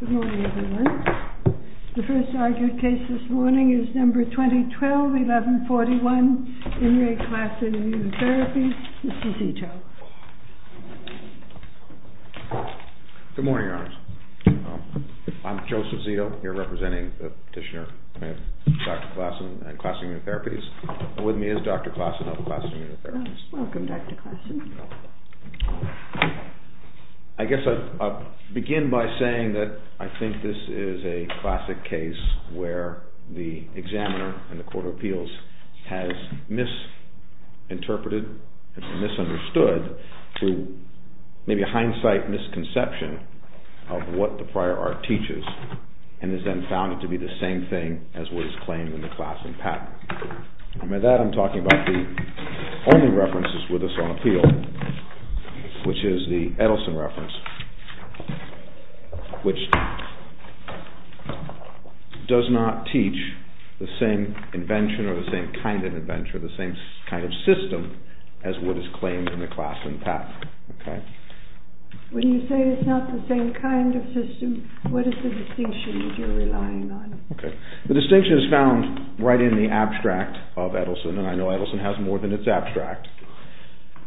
Good morning everyone. The first argued case this morning is number 2012-1141, In Re Classen Immunotherapies. Mr. Zito. Good morning, Your Honor. I'm Joseph Zito, here representing the petitioner, Dr. Classen, at Classen Immunotherapies. With me is Dr. Classen of Classen Immunotherapies. Welcome, Dr. Classen. I guess I'll begin by saying that I think this is a classic case where the examiner in the Court of Appeals has misinterpreted and misunderstood through maybe a hindsight misconception of what the prior art teaches and has then found it to be the same thing as what is claimed in the Classen patent. And by that I'm talking about the only references with us on appeal, which is the Edelson reference, which does not teach the same invention or the same kind of invention or the same kind of system as what is claimed in the Classen patent. When you say it's not the same kind of system, what is the distinction that you're relying on? The distinction is found right in the abstract of Edelson, and I know Edelson has more than that, it's abstract.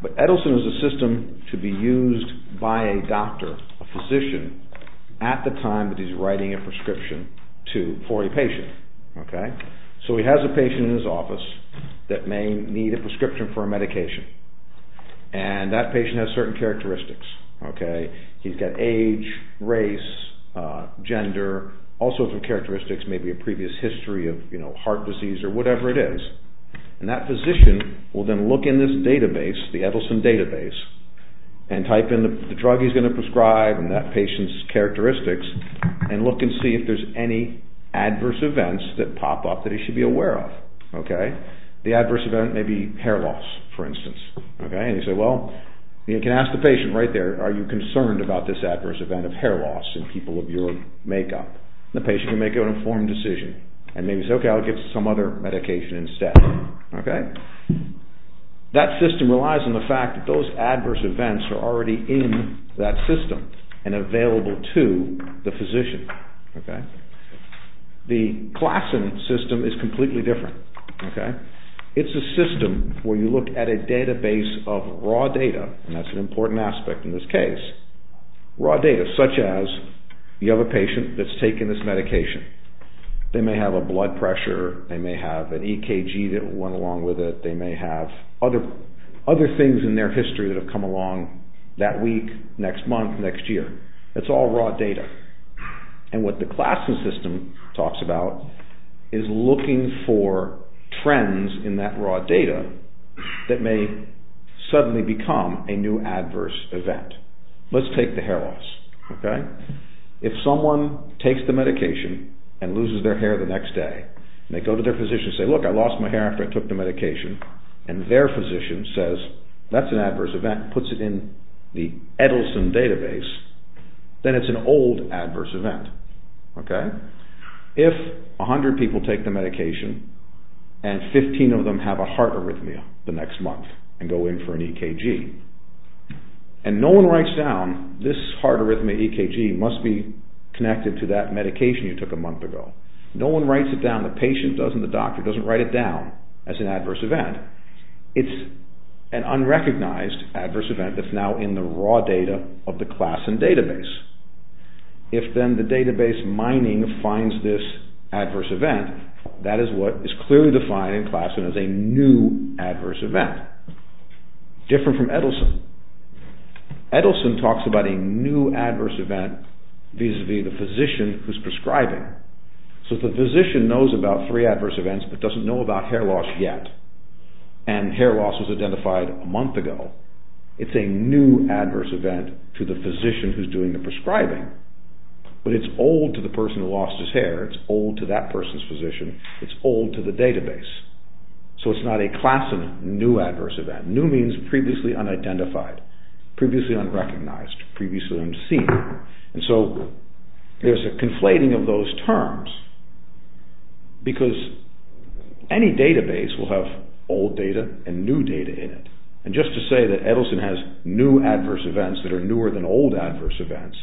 But Edelson is a system to be used by a doctor, a physician, at the time that he's writing a prescription for a patient. So he has a patient in his office that may need a prescription for a medication, and that patient has certain characteristics. He's got age, race, gender, all sorts of characteristics, maybe a previous history of heart disease or whatever it is. And that physician will then look in this database, the Edelson database, and type in the drug he's going to prescribe and that patient's characteristics, and look and see if there's any adverse events that pop up that he should be aware of. The adverse event may be hair loss, for instance. And you can ask the patient right there, are you concerned about this adverse event of hair loss in people of your decision? And maybe say, okay, I'll get some other medication instead. That system relies on the fact that those adverse events are already in that system and available to the physician. The Klassen system is completely different. It's a system where you look at a database of raw data, and that's an important aspect in this case, raw data such as you may have a blood pressure, they may have an EKG that went along with it, they may have other things in their history that have come along that week, next month, next year. It's all raw data. And what the Klassen system talks about is looking for trends in that raw data that may suddenly become a new adverse event. Let's take the hair loss, okay? If someone takes the medication and loses their hair the next day, and they go to their physician and say, look, I lost my hair after I took the medication, and their physician says, that's an adverse event, puts it in the Edelson database, then it's an old adverse event, okay? If 100 people take the medication and 15 of them have a heart arrhythmia the next connected to that medication you took a month ago, no one writes it down, the patient doesn't, the doctor doesn't write it down as an adverse event. It's an unrecognized adverse event that's now in the raw data of the Klassen database. If then the database mining finds this adverse event, that is what is clearly defined in Klassen as a new adverse event. Different from Edelson. Edelson talks about a new adverse event vis-à-vis the physician who's prescribing. So if the physician knows about three adverse events but doesn't know about hair loss yet, and hair loss was identified a month ago, it's a new adverse event to the physician who's doing the prescribing, but it's old to the person who lost his hair, it's old to that person's physician, it's old to the database. So it's not a Klassen new adverse event. New means previously unidentified, previously unrecognized, previously unseen. And so there's a conflating of those terms because any database will have old data and new data in it. And just to say that Edelson has new adverse events that are newer than old adverse events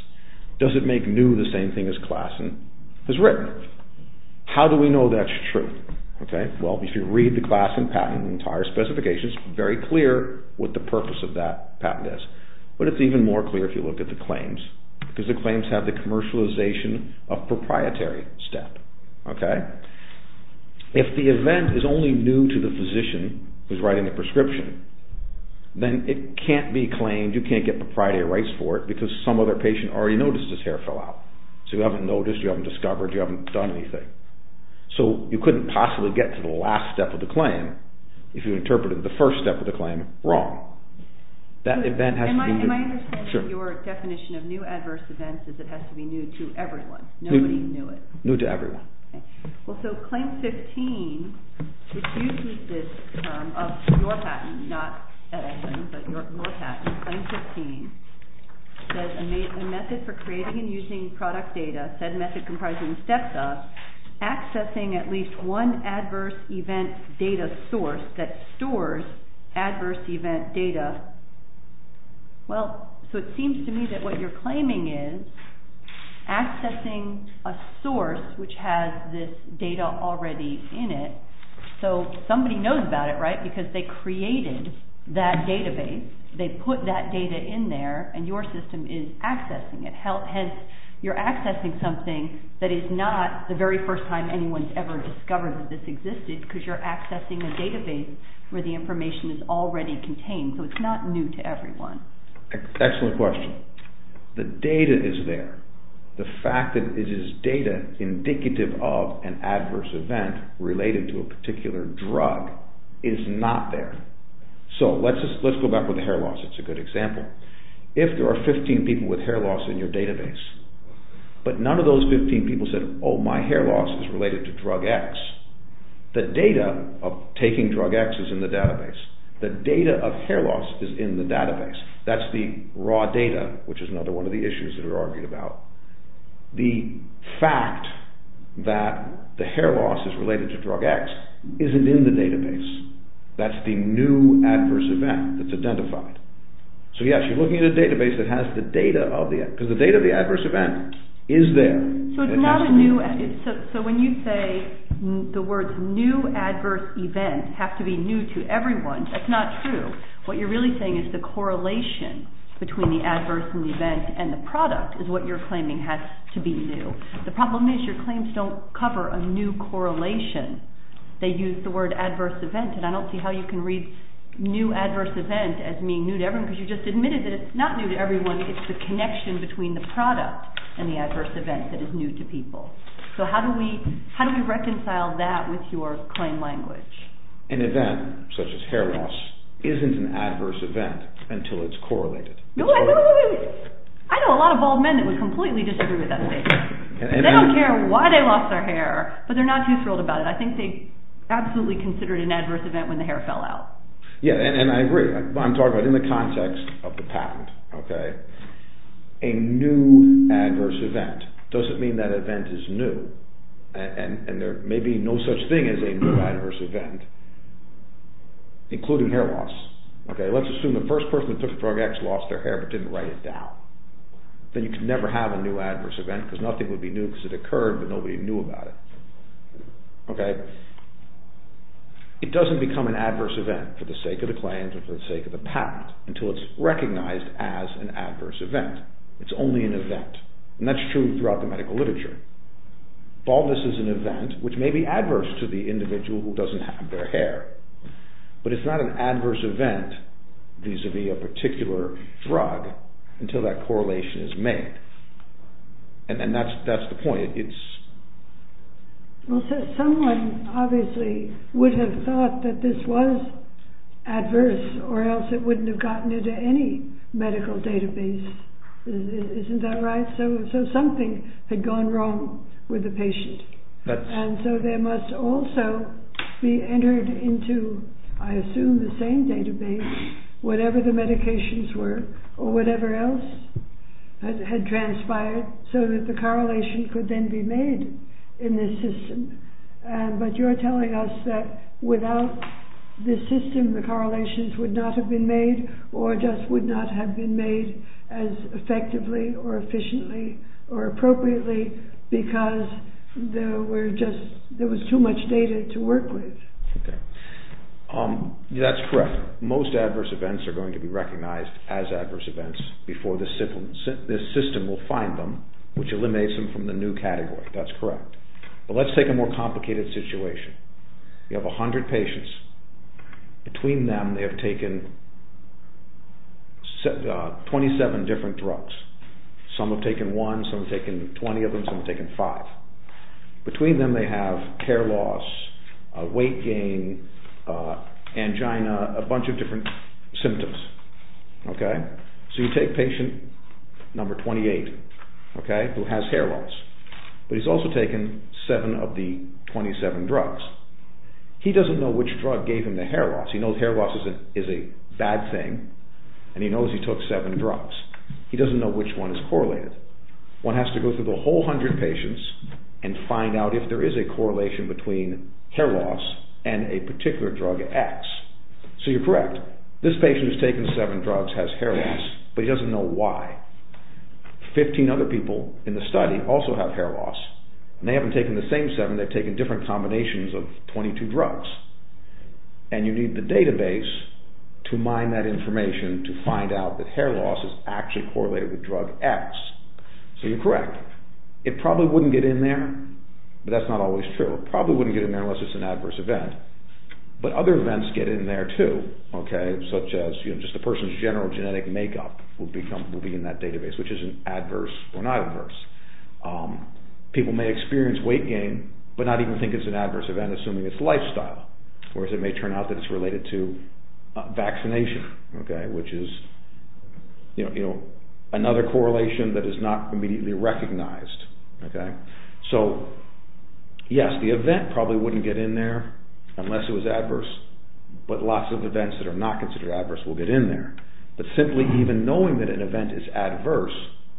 doesn't make new the same thing as Klassen has written. How do we know that's true? Well, if you read the Klassen patent, the entire specification is very clear what the purpose of that patent is. But it's even more clear if you look at the claims because the claims have the commercialization of proprietary step. If the event is only new to the physician who's writing the prescription, then it can't be claimed, you can't get proprietary rights for it because some other patient already noticed his hair fell out. So you haven't noticed, you haven't discovered, you haven't done anything. So you couldn't possibly get to the last step of the claim if you interpreted the first step of the claim wrong. Am I understanding that your definition of new adverse events is that it has to be new to everyone, nobody knew it? New to everyone. Well, so claim 15, which uses this term of your patent, not Edelson, but your patent, claim 15 says a method for creating and using product data, said method comprises steps of accessing at least one adverse event data source that stores adverse event data. Well, so it seems to me that what you're claiming is accessing a source which has this data already in it, so somebody knows about it, right? Because they created that database, they put that data in there, and your system is accessing it. Hence, you're accessing something that is not the very first time anyone's ever discovered that this existed because you're accessing a database where the information is already contained. So it's not new to everyone. Excellent question. The data is there. The fact that it is data indicative of an adverse event related to a particular drug is not there. So let's go back with hair loss, it's a good example. If there are 15 people with hair loss in your database, but none of those 15 people said, oh, my hair loss is related to drug X, the data of taking drug X is in the database. The data of hair loss is in the database. That's the raw data, which is another one of the issues that are argued about. The fact that the hair loss is related to drug X isn't in the database. That's the new adverse event that's identified. So yes, you're looking at a database that has the data of the, because the data of the adverse event is there. So it's not a new, so when you say the words new adverse event have to be new to everyone, that's not true. What you're really saying is the correlation between the adverse and the event and the product is what you're claiming has to be new. The problem is your claims don't cover a new correlation. They use the word adverse event, and I don't see how you can read new adverse event as being new to everyone, because you just admitted that it's not new to everyone, it's the connection between the product and the adverse event that is new to people. So how do we reconcile that with your claim language? An event, such as hair loss, isn't an adverse event until it's correlated. I know a lot of bald men that would completely disagree with that statement. They don't care why they lost their hair, but they're not too thrilled about it. I think they absolutely considered an adverse event when the hair fell out. Yeah, and I agree. I'm talking about in the context of the patent. A new adverse event, does it mean that event is new? And there may be no such thing as a new adverse event, including hair loss. Let's assume the first person who took the drug X lost their hair but didn't write it down. Then you could never have a new adverse event because nothing would be new because it occurred but nobody knew about it. It doesn't become an adverse event for the sake of the claims or for the sake of the patent until it's recognized as an adverse event throughout the medical literature. Baldness is an event which may be adverse to the individual who doesn't have their hair, but it's not an adverse event vis-à-vis a particular drug until that correlation is made. And that's the point. Well, someone obviously would have thought that this was adverse or else it wouldn't have gotten into any medical database. Isn't that right? So something had gone wrong with the patient. And so there must also be entered into, I assume, the same database, whatever the medications were or whatever else had transpired, so that the correlation could then be made in this system. But you're telling us that without this system the correlations would not have been made or just would not have been made as effectively or efficiently or appropriately because there was too much data to work with. That's correct. Most adverse events are going to be recognized as adverse events before this system will find them, which eliminates them from the new category. That's correct. But let's take a more complicated situation. You have a hundred patients. Between them they have taken 27 different drugs. Some have taken one, some have taken 20 of them, some have taken five. Between them they have hair loss, weight gain, angina, a bunch of different 27 drugs. He doesn't know which drug gave him the hair loss. He knows hair loss is a bad thing and he knows he took 7 drugs. He doesn't know which one is correlated. One has to go through the whole hundred patients and find out if there is a correlation between hair loss and a particular drug X. So you're correct. This patient who has taken 7 drugs has hair loss, but he doesn't know why. 15 other people in the study also have hair loss and they haven't taken the same 7, they've taken different combinations of 22 drugs. And you need the database to mine that information to find out that hair loss is actually correlated with drug X. So you're correct. It probably wouldn't get in there, but that's not always true. It probably wouldn't get in there unless it's an adverse event. But other events get in there too, such as just a person's general genetic makeup will be in that database, which is adverse or not adverse. People may experience weight gain, but not even think it's an adverse event, assuming it's lifestyle. Whereas it may turn out that it's related to vaccination, which is another correlation that is not immediately recognized. So yes, the event probably wouldn't get in there unless it was adverse, but lots of events that are not considered adverse will get in there. But simply even knowing that an event is adverse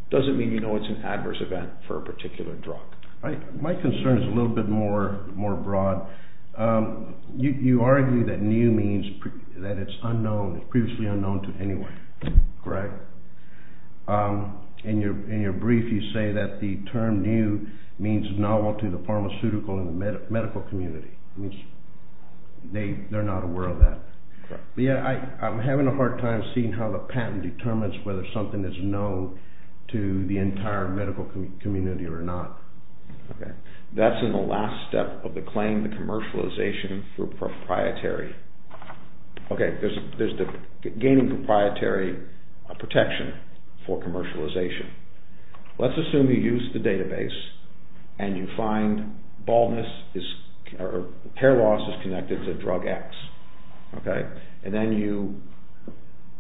doesn't mean you know it's an adverse event for a particular drug. My concern is a little bit more broad. You argue that new means that it's previously unknown to anyone, correct? In your brief you say that the term new means novel to the patent determines whether something is known to the entire medical community or not. That's in the last step of the claim, the commercialization for proprietary. There's the gaining proprietary protection for commercialization. Let's assume you use the database and you find hair loss is connected to drug X. And then you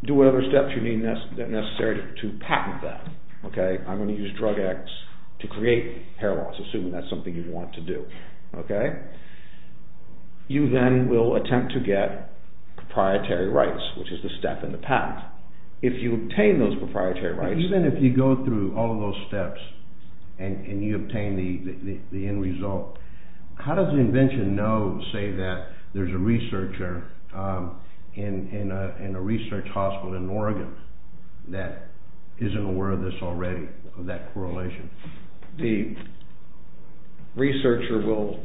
do whatever steps you need necessary to patent that. I'm going to use drug X to create hair loss, assuming that's something you'd want to do. You then will attempt to get proprietary rights, which is the step in the patent. If you obtain those proprietary rights... How does the invention know, say that there's a researcher in a research hospital in Oregon that isn't aware of this already, of that correlation? The researcher will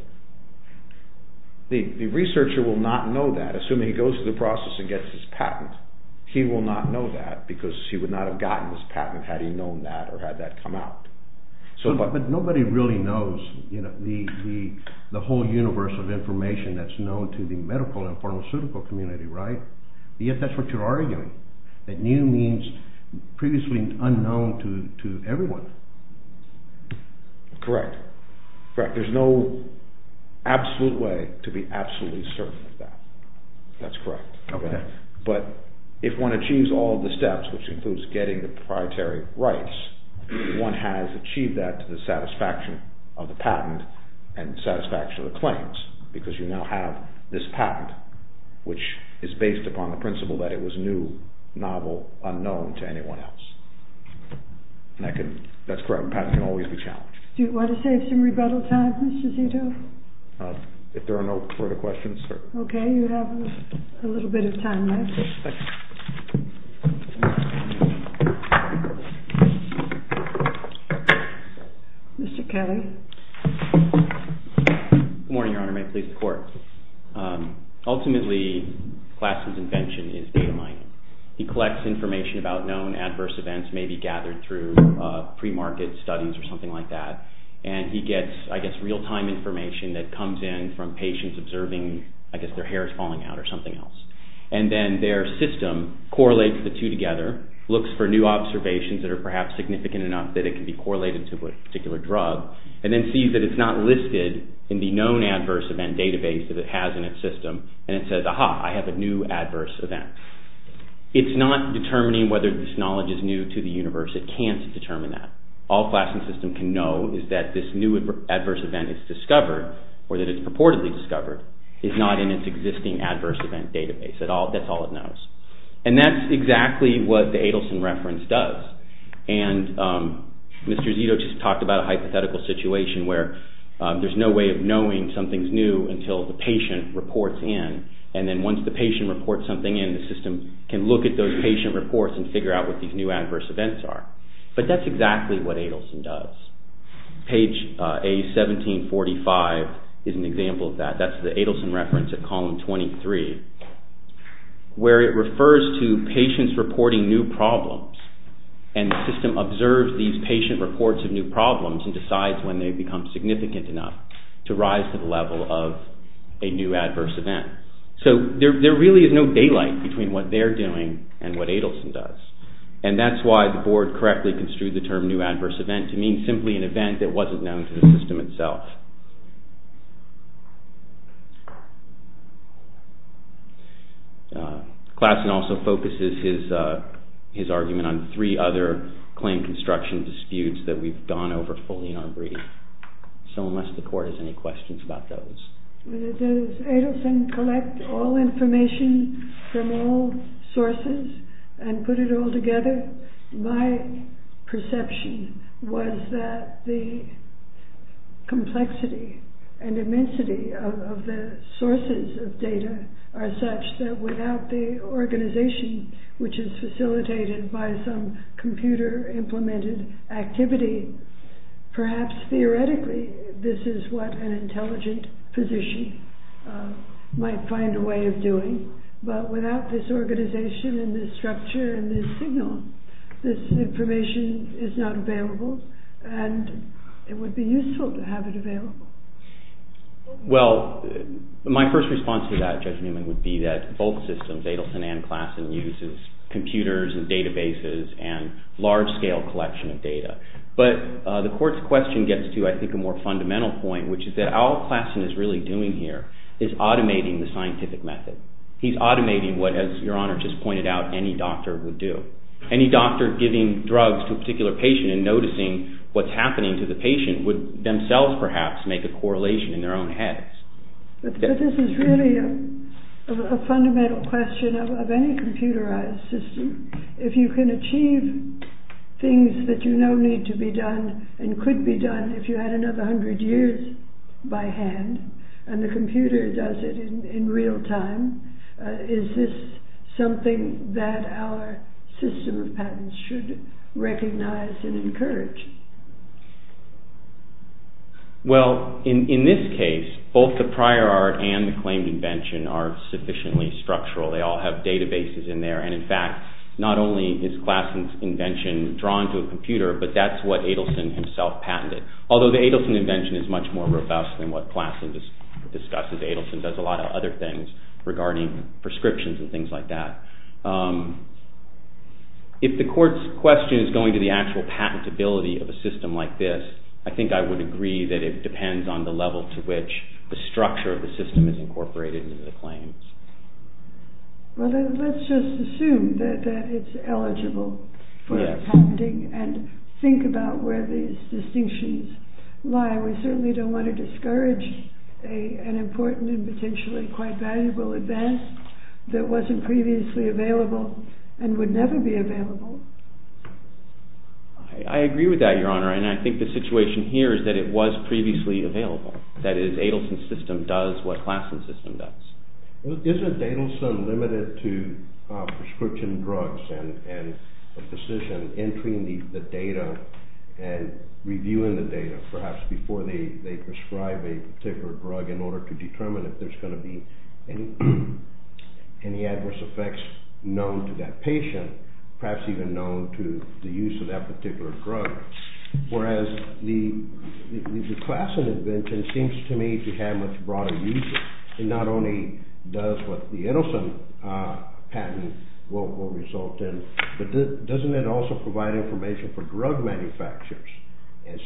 not know that. Assuming he goes through the process and gets his patent, he will not know that because he would not have gotten his patent had he known that or the whole universe of information that's known to the medical and pharmaceutical community, right? Yet that's what you're arguing. That new means previously unknown to everyone. Correct. There's no absolute way to be absolutely certain of that. That's correct. But if one achieves all the steps, which includes getting the proprietary rights, one has achieved that satisfaction of the patent and satisfaction of the claims because you now have this patent, which is based upon the principle that it was new, novel, unknown to anyone else. That's correct. A patent can always be challenged. Do you want to save some rebuttal time, Mr. Zito? If there are no further questions, sir. Okay. You have a little bit of time left. Thank you. Mr. Kelly. Good morning, Your Honor. May it please the Court. Ultimately, Glassman's invention is data mining. He collects information about known adverse events, maybe gathered through pre-market studies or something like that, and he gets, I guess, real-time information that comes in from patients observing, I guess, their hairs falling out or something else. And then their system correlates the two together, looks for new observations that are perhaps significant enough that it can be a particular drug, and then sees that it's not listed in the known adverse event database that it has in its system, and it says, aha, I have a new adverse event. It's not determining whether this knowledge is new to the universe. It can't determine that. All Glassman's system can know is that this new adverse event is discovered, or that it's purportedly discovered, is not in its existing adverse event database. That's all it knows. And that's exactly what the Adelson reference does. And Mr. Zito just talked about a hypothetical situation where there's no way of knowing something's new until the patient reports in, and then once the patient reports something in, the system can look at those patient reports and figure out what these new adverse events are. But that's exactly what Adelson does. Page A1745 is an example of that. That's the Adelson reference at column 23, where it refers to patients reporting new problems, and the system observes these patient reports of new problems and decides when they've become significant enough to rise to the level of a new adverse event. So there really is no daylight between what they're doing and what Adelson does. And that's why the board correctly construed the term new adverse event to mean simply an event that wasn't known to the system itself. Klassen also focuses his argument on three other claim construction disputes that we've gone over fully in our brief. So unless the court has any questions about those. Does Adelson collect all information from all sources and put it all together? My perception was that the complexity and immensity of the sources of data are such that without the organization which is facilitated by some computer implemented activity, perhaps theoretically this is what an intelligent physician might find a way of doing. But without this organization and this structure and this signal, this information is not available and it would be useful to have it available. Well, my first response to that, Judge Newman, would be that both systems, Adelson and Klassen, uses computers and databases and large scale collection of data. But the court's question gets to, I think, a more fundamental point, which is that all Klassen is really doing here is automating the scientific method. He's automating what, as Your Honor just pointed out, any doctor would do. Any doctor giving drugs to a particular patient and noticing what's happening to the patient would themselves perhaps make a correlation in their own heads. But this is really a fundamental question of any computerized system. If you can achieve things that you know need to be done and could be done if you had another hundred years by hand and the computer does it in real time, is this something that our system of patents should recognize and encourage? Well, in this case, both the prior art and the claimed invention are sufficiently structural. They all have databases in there and, in fact, not only is Klassen's invention drawn to a computer, but that's what Adelson himself patented. Although the Adelson invention is much more robust than what Klassen discusses. Adelson does a lot of other things regarding prescriptions and things like that. If the court's question is going to the actual patentability of a system like this, I think I would agree that it depends on the level to which the structure of the system is incorporated into the claims. Well, then let's just assume that it's eligible for patenting and think about where these distinctions lie. We certainly don't want to discourage an important and potentially quite valuable advance that wasn't previously available and would never be available. I agree with that, Your Honor, and I think the situation here is that it was previously available. That is, Adelson's system does what Klassen's system does. Isn't Adelson limited to prescription drugs and a physician entering the data and reviewing the data perhaps before they prescribe a particular drug in order to determine if there's going to be any adverse effects known to that patient, perhaps even known to the use of that particular drug? Whereas the Klassen invention seems to me to have much broader uses. It not only does what the Adelson patent will result in, but doesn't it also provide information for drug manufacturers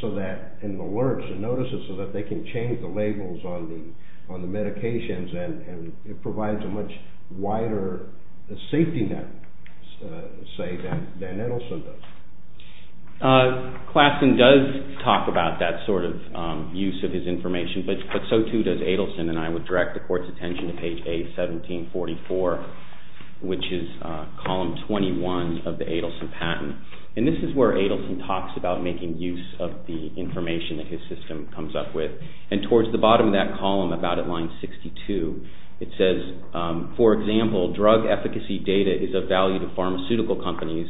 so that in the alerts and notices so that they can change the labels on the medications and it provides a much wider safety net, say, than Adelson does. Klassen does talk about that sort of use of his information, but so too does Adelson and I would direct the Court's attention to page A1744, which is column 21 of the Adelson patent. And this is where Adelson talks about making use of the information that his system comes up with. And towards the bottom of that column, about at line 62, it says, for example, drug efficacy data is of value to pharmaceutical companies,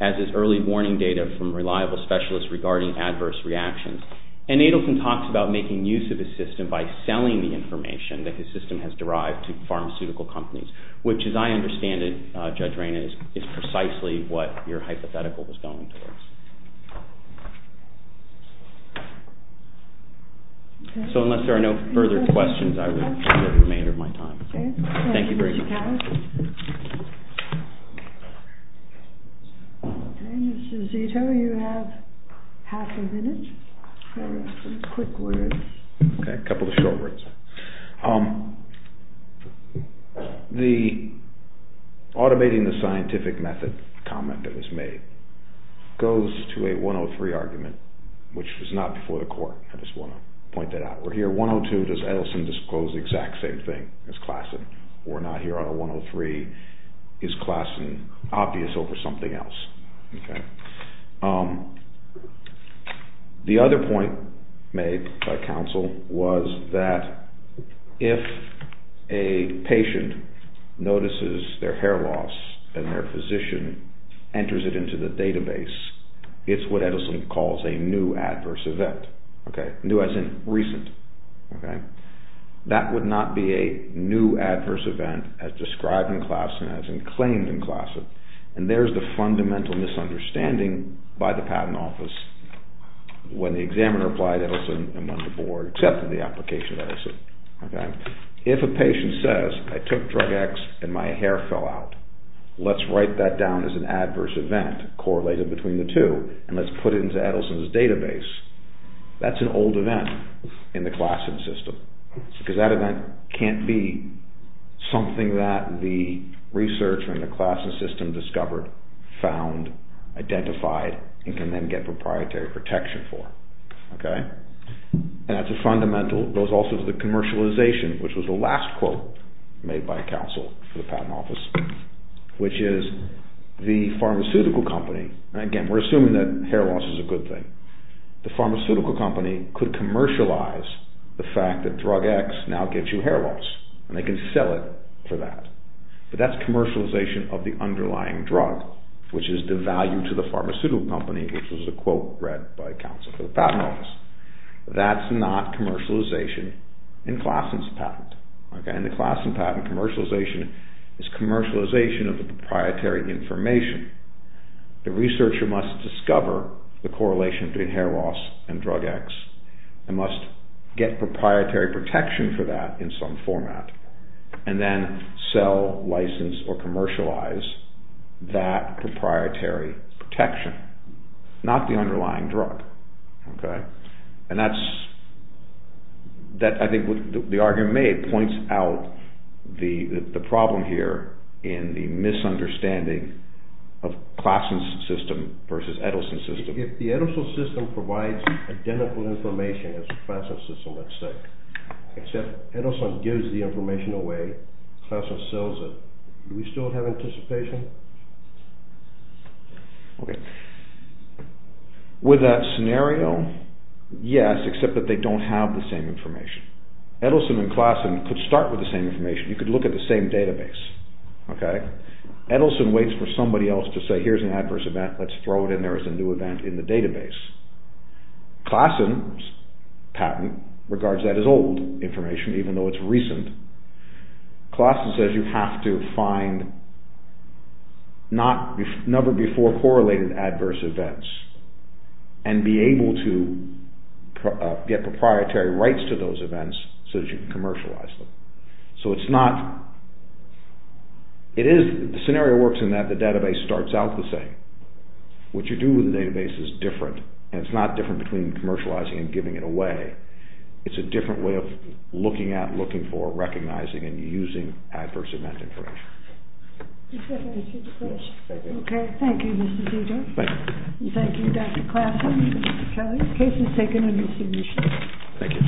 as is early warning data from reliable specialists regarding adverse reactions. And Adelson talks about making use of his system by selling the information that his system has derived to pharmaceutical companies, which, as I understand it, Judge Rayna, is precisely what your hypothetical was going towards. So unless there are no further questions, I will take the remainder of my time. Thank you very much. Okay, Mr. Zito, you have half a minute. Okay, a couple of short words. The automating the scientific method comment that was made goes to a 103 argument, which was not before the Court. I just want to point that out. We're here at 102. Does Adelson disclose the exact same thing as Klassen? We're not here on a 103. Is Klassen obvious over something else? Okay. The other point made by counsel was that if a patient notices their hair loss and their physician enters it into the database, it's what Adelson calls a new adverse event. Okay, new as in recent. Okay. That would not be a new adverse event as described in Klassen, as in claimed in Klassen. And there's the fundamental misunderstanding by the Patent Office when the examiner applied Adelson and when the Board accepted the application of Adelson. Okay. If a patient says, I took drug X and my hair fell out, let's write that down as an adverse event correlated between the two, and let's put it into Adelson's database, that's an old event in the Klassen system. Because that event can't be something that the researcher in the Klassen system discovered, found, identified, and can then get proprietary protection for. Okay. And that's a fundamental. It goes also to the commercialization, which was the last quote made by counsel for the Patent Office, which is the pharmaceutical company, and again we're assuming that hair loss is a good thing, the pharmaceutical company could commercialize the fact that drug X now gives you hair loss, and they can sell it for that. But that's commercialization of the underlying drug, which is devalued to the pharmaceutical company, which was a quote read by counsel for the Patent Office. That's not commercialization in Klassen's patent. Okay. In the Klassen patent, commercialization is commercialization of the proprietary information. The researcher must discover the correlation between hair loss and drug X and must get proprietary protection for that in some format, and then sell, license, or commercialize that proprietary protection, not the underlying drug. Okay. And I think the argument made points out the problem here in the misunderstanding of Klassen's system versus Edelson's system. If the Edelson system provides identical information as the Klassen system, let's say, except Edelson gives the information away, Klassen sells it, do we still have anticipation? Okay. With that scenario, yes, except that they don't have the same information. Edelson and Klassen could start with the same information. You could look at the same database, okay? Edelson waits for somebody else to say, here's an adverse event, let's throw it in there as a new event in the database. Klassen's patent regards that as old information, even though it's recent. Klassen says you have to find never before correlated adverse events and be able to get proprietary rights to those events so that you can commercialize them. So it's not, it is, the scenario works in that the database starts out the same. What you do with the database is different, and it's not different between commercializing and giving it away. It's a different way of looking at, looking for, recognizing and using adverse event information. Okay. Thank you, Mr. Dieter. Thank you, Dr. Klassen and Mr. Kelly. The case is taken under submission. Thank you.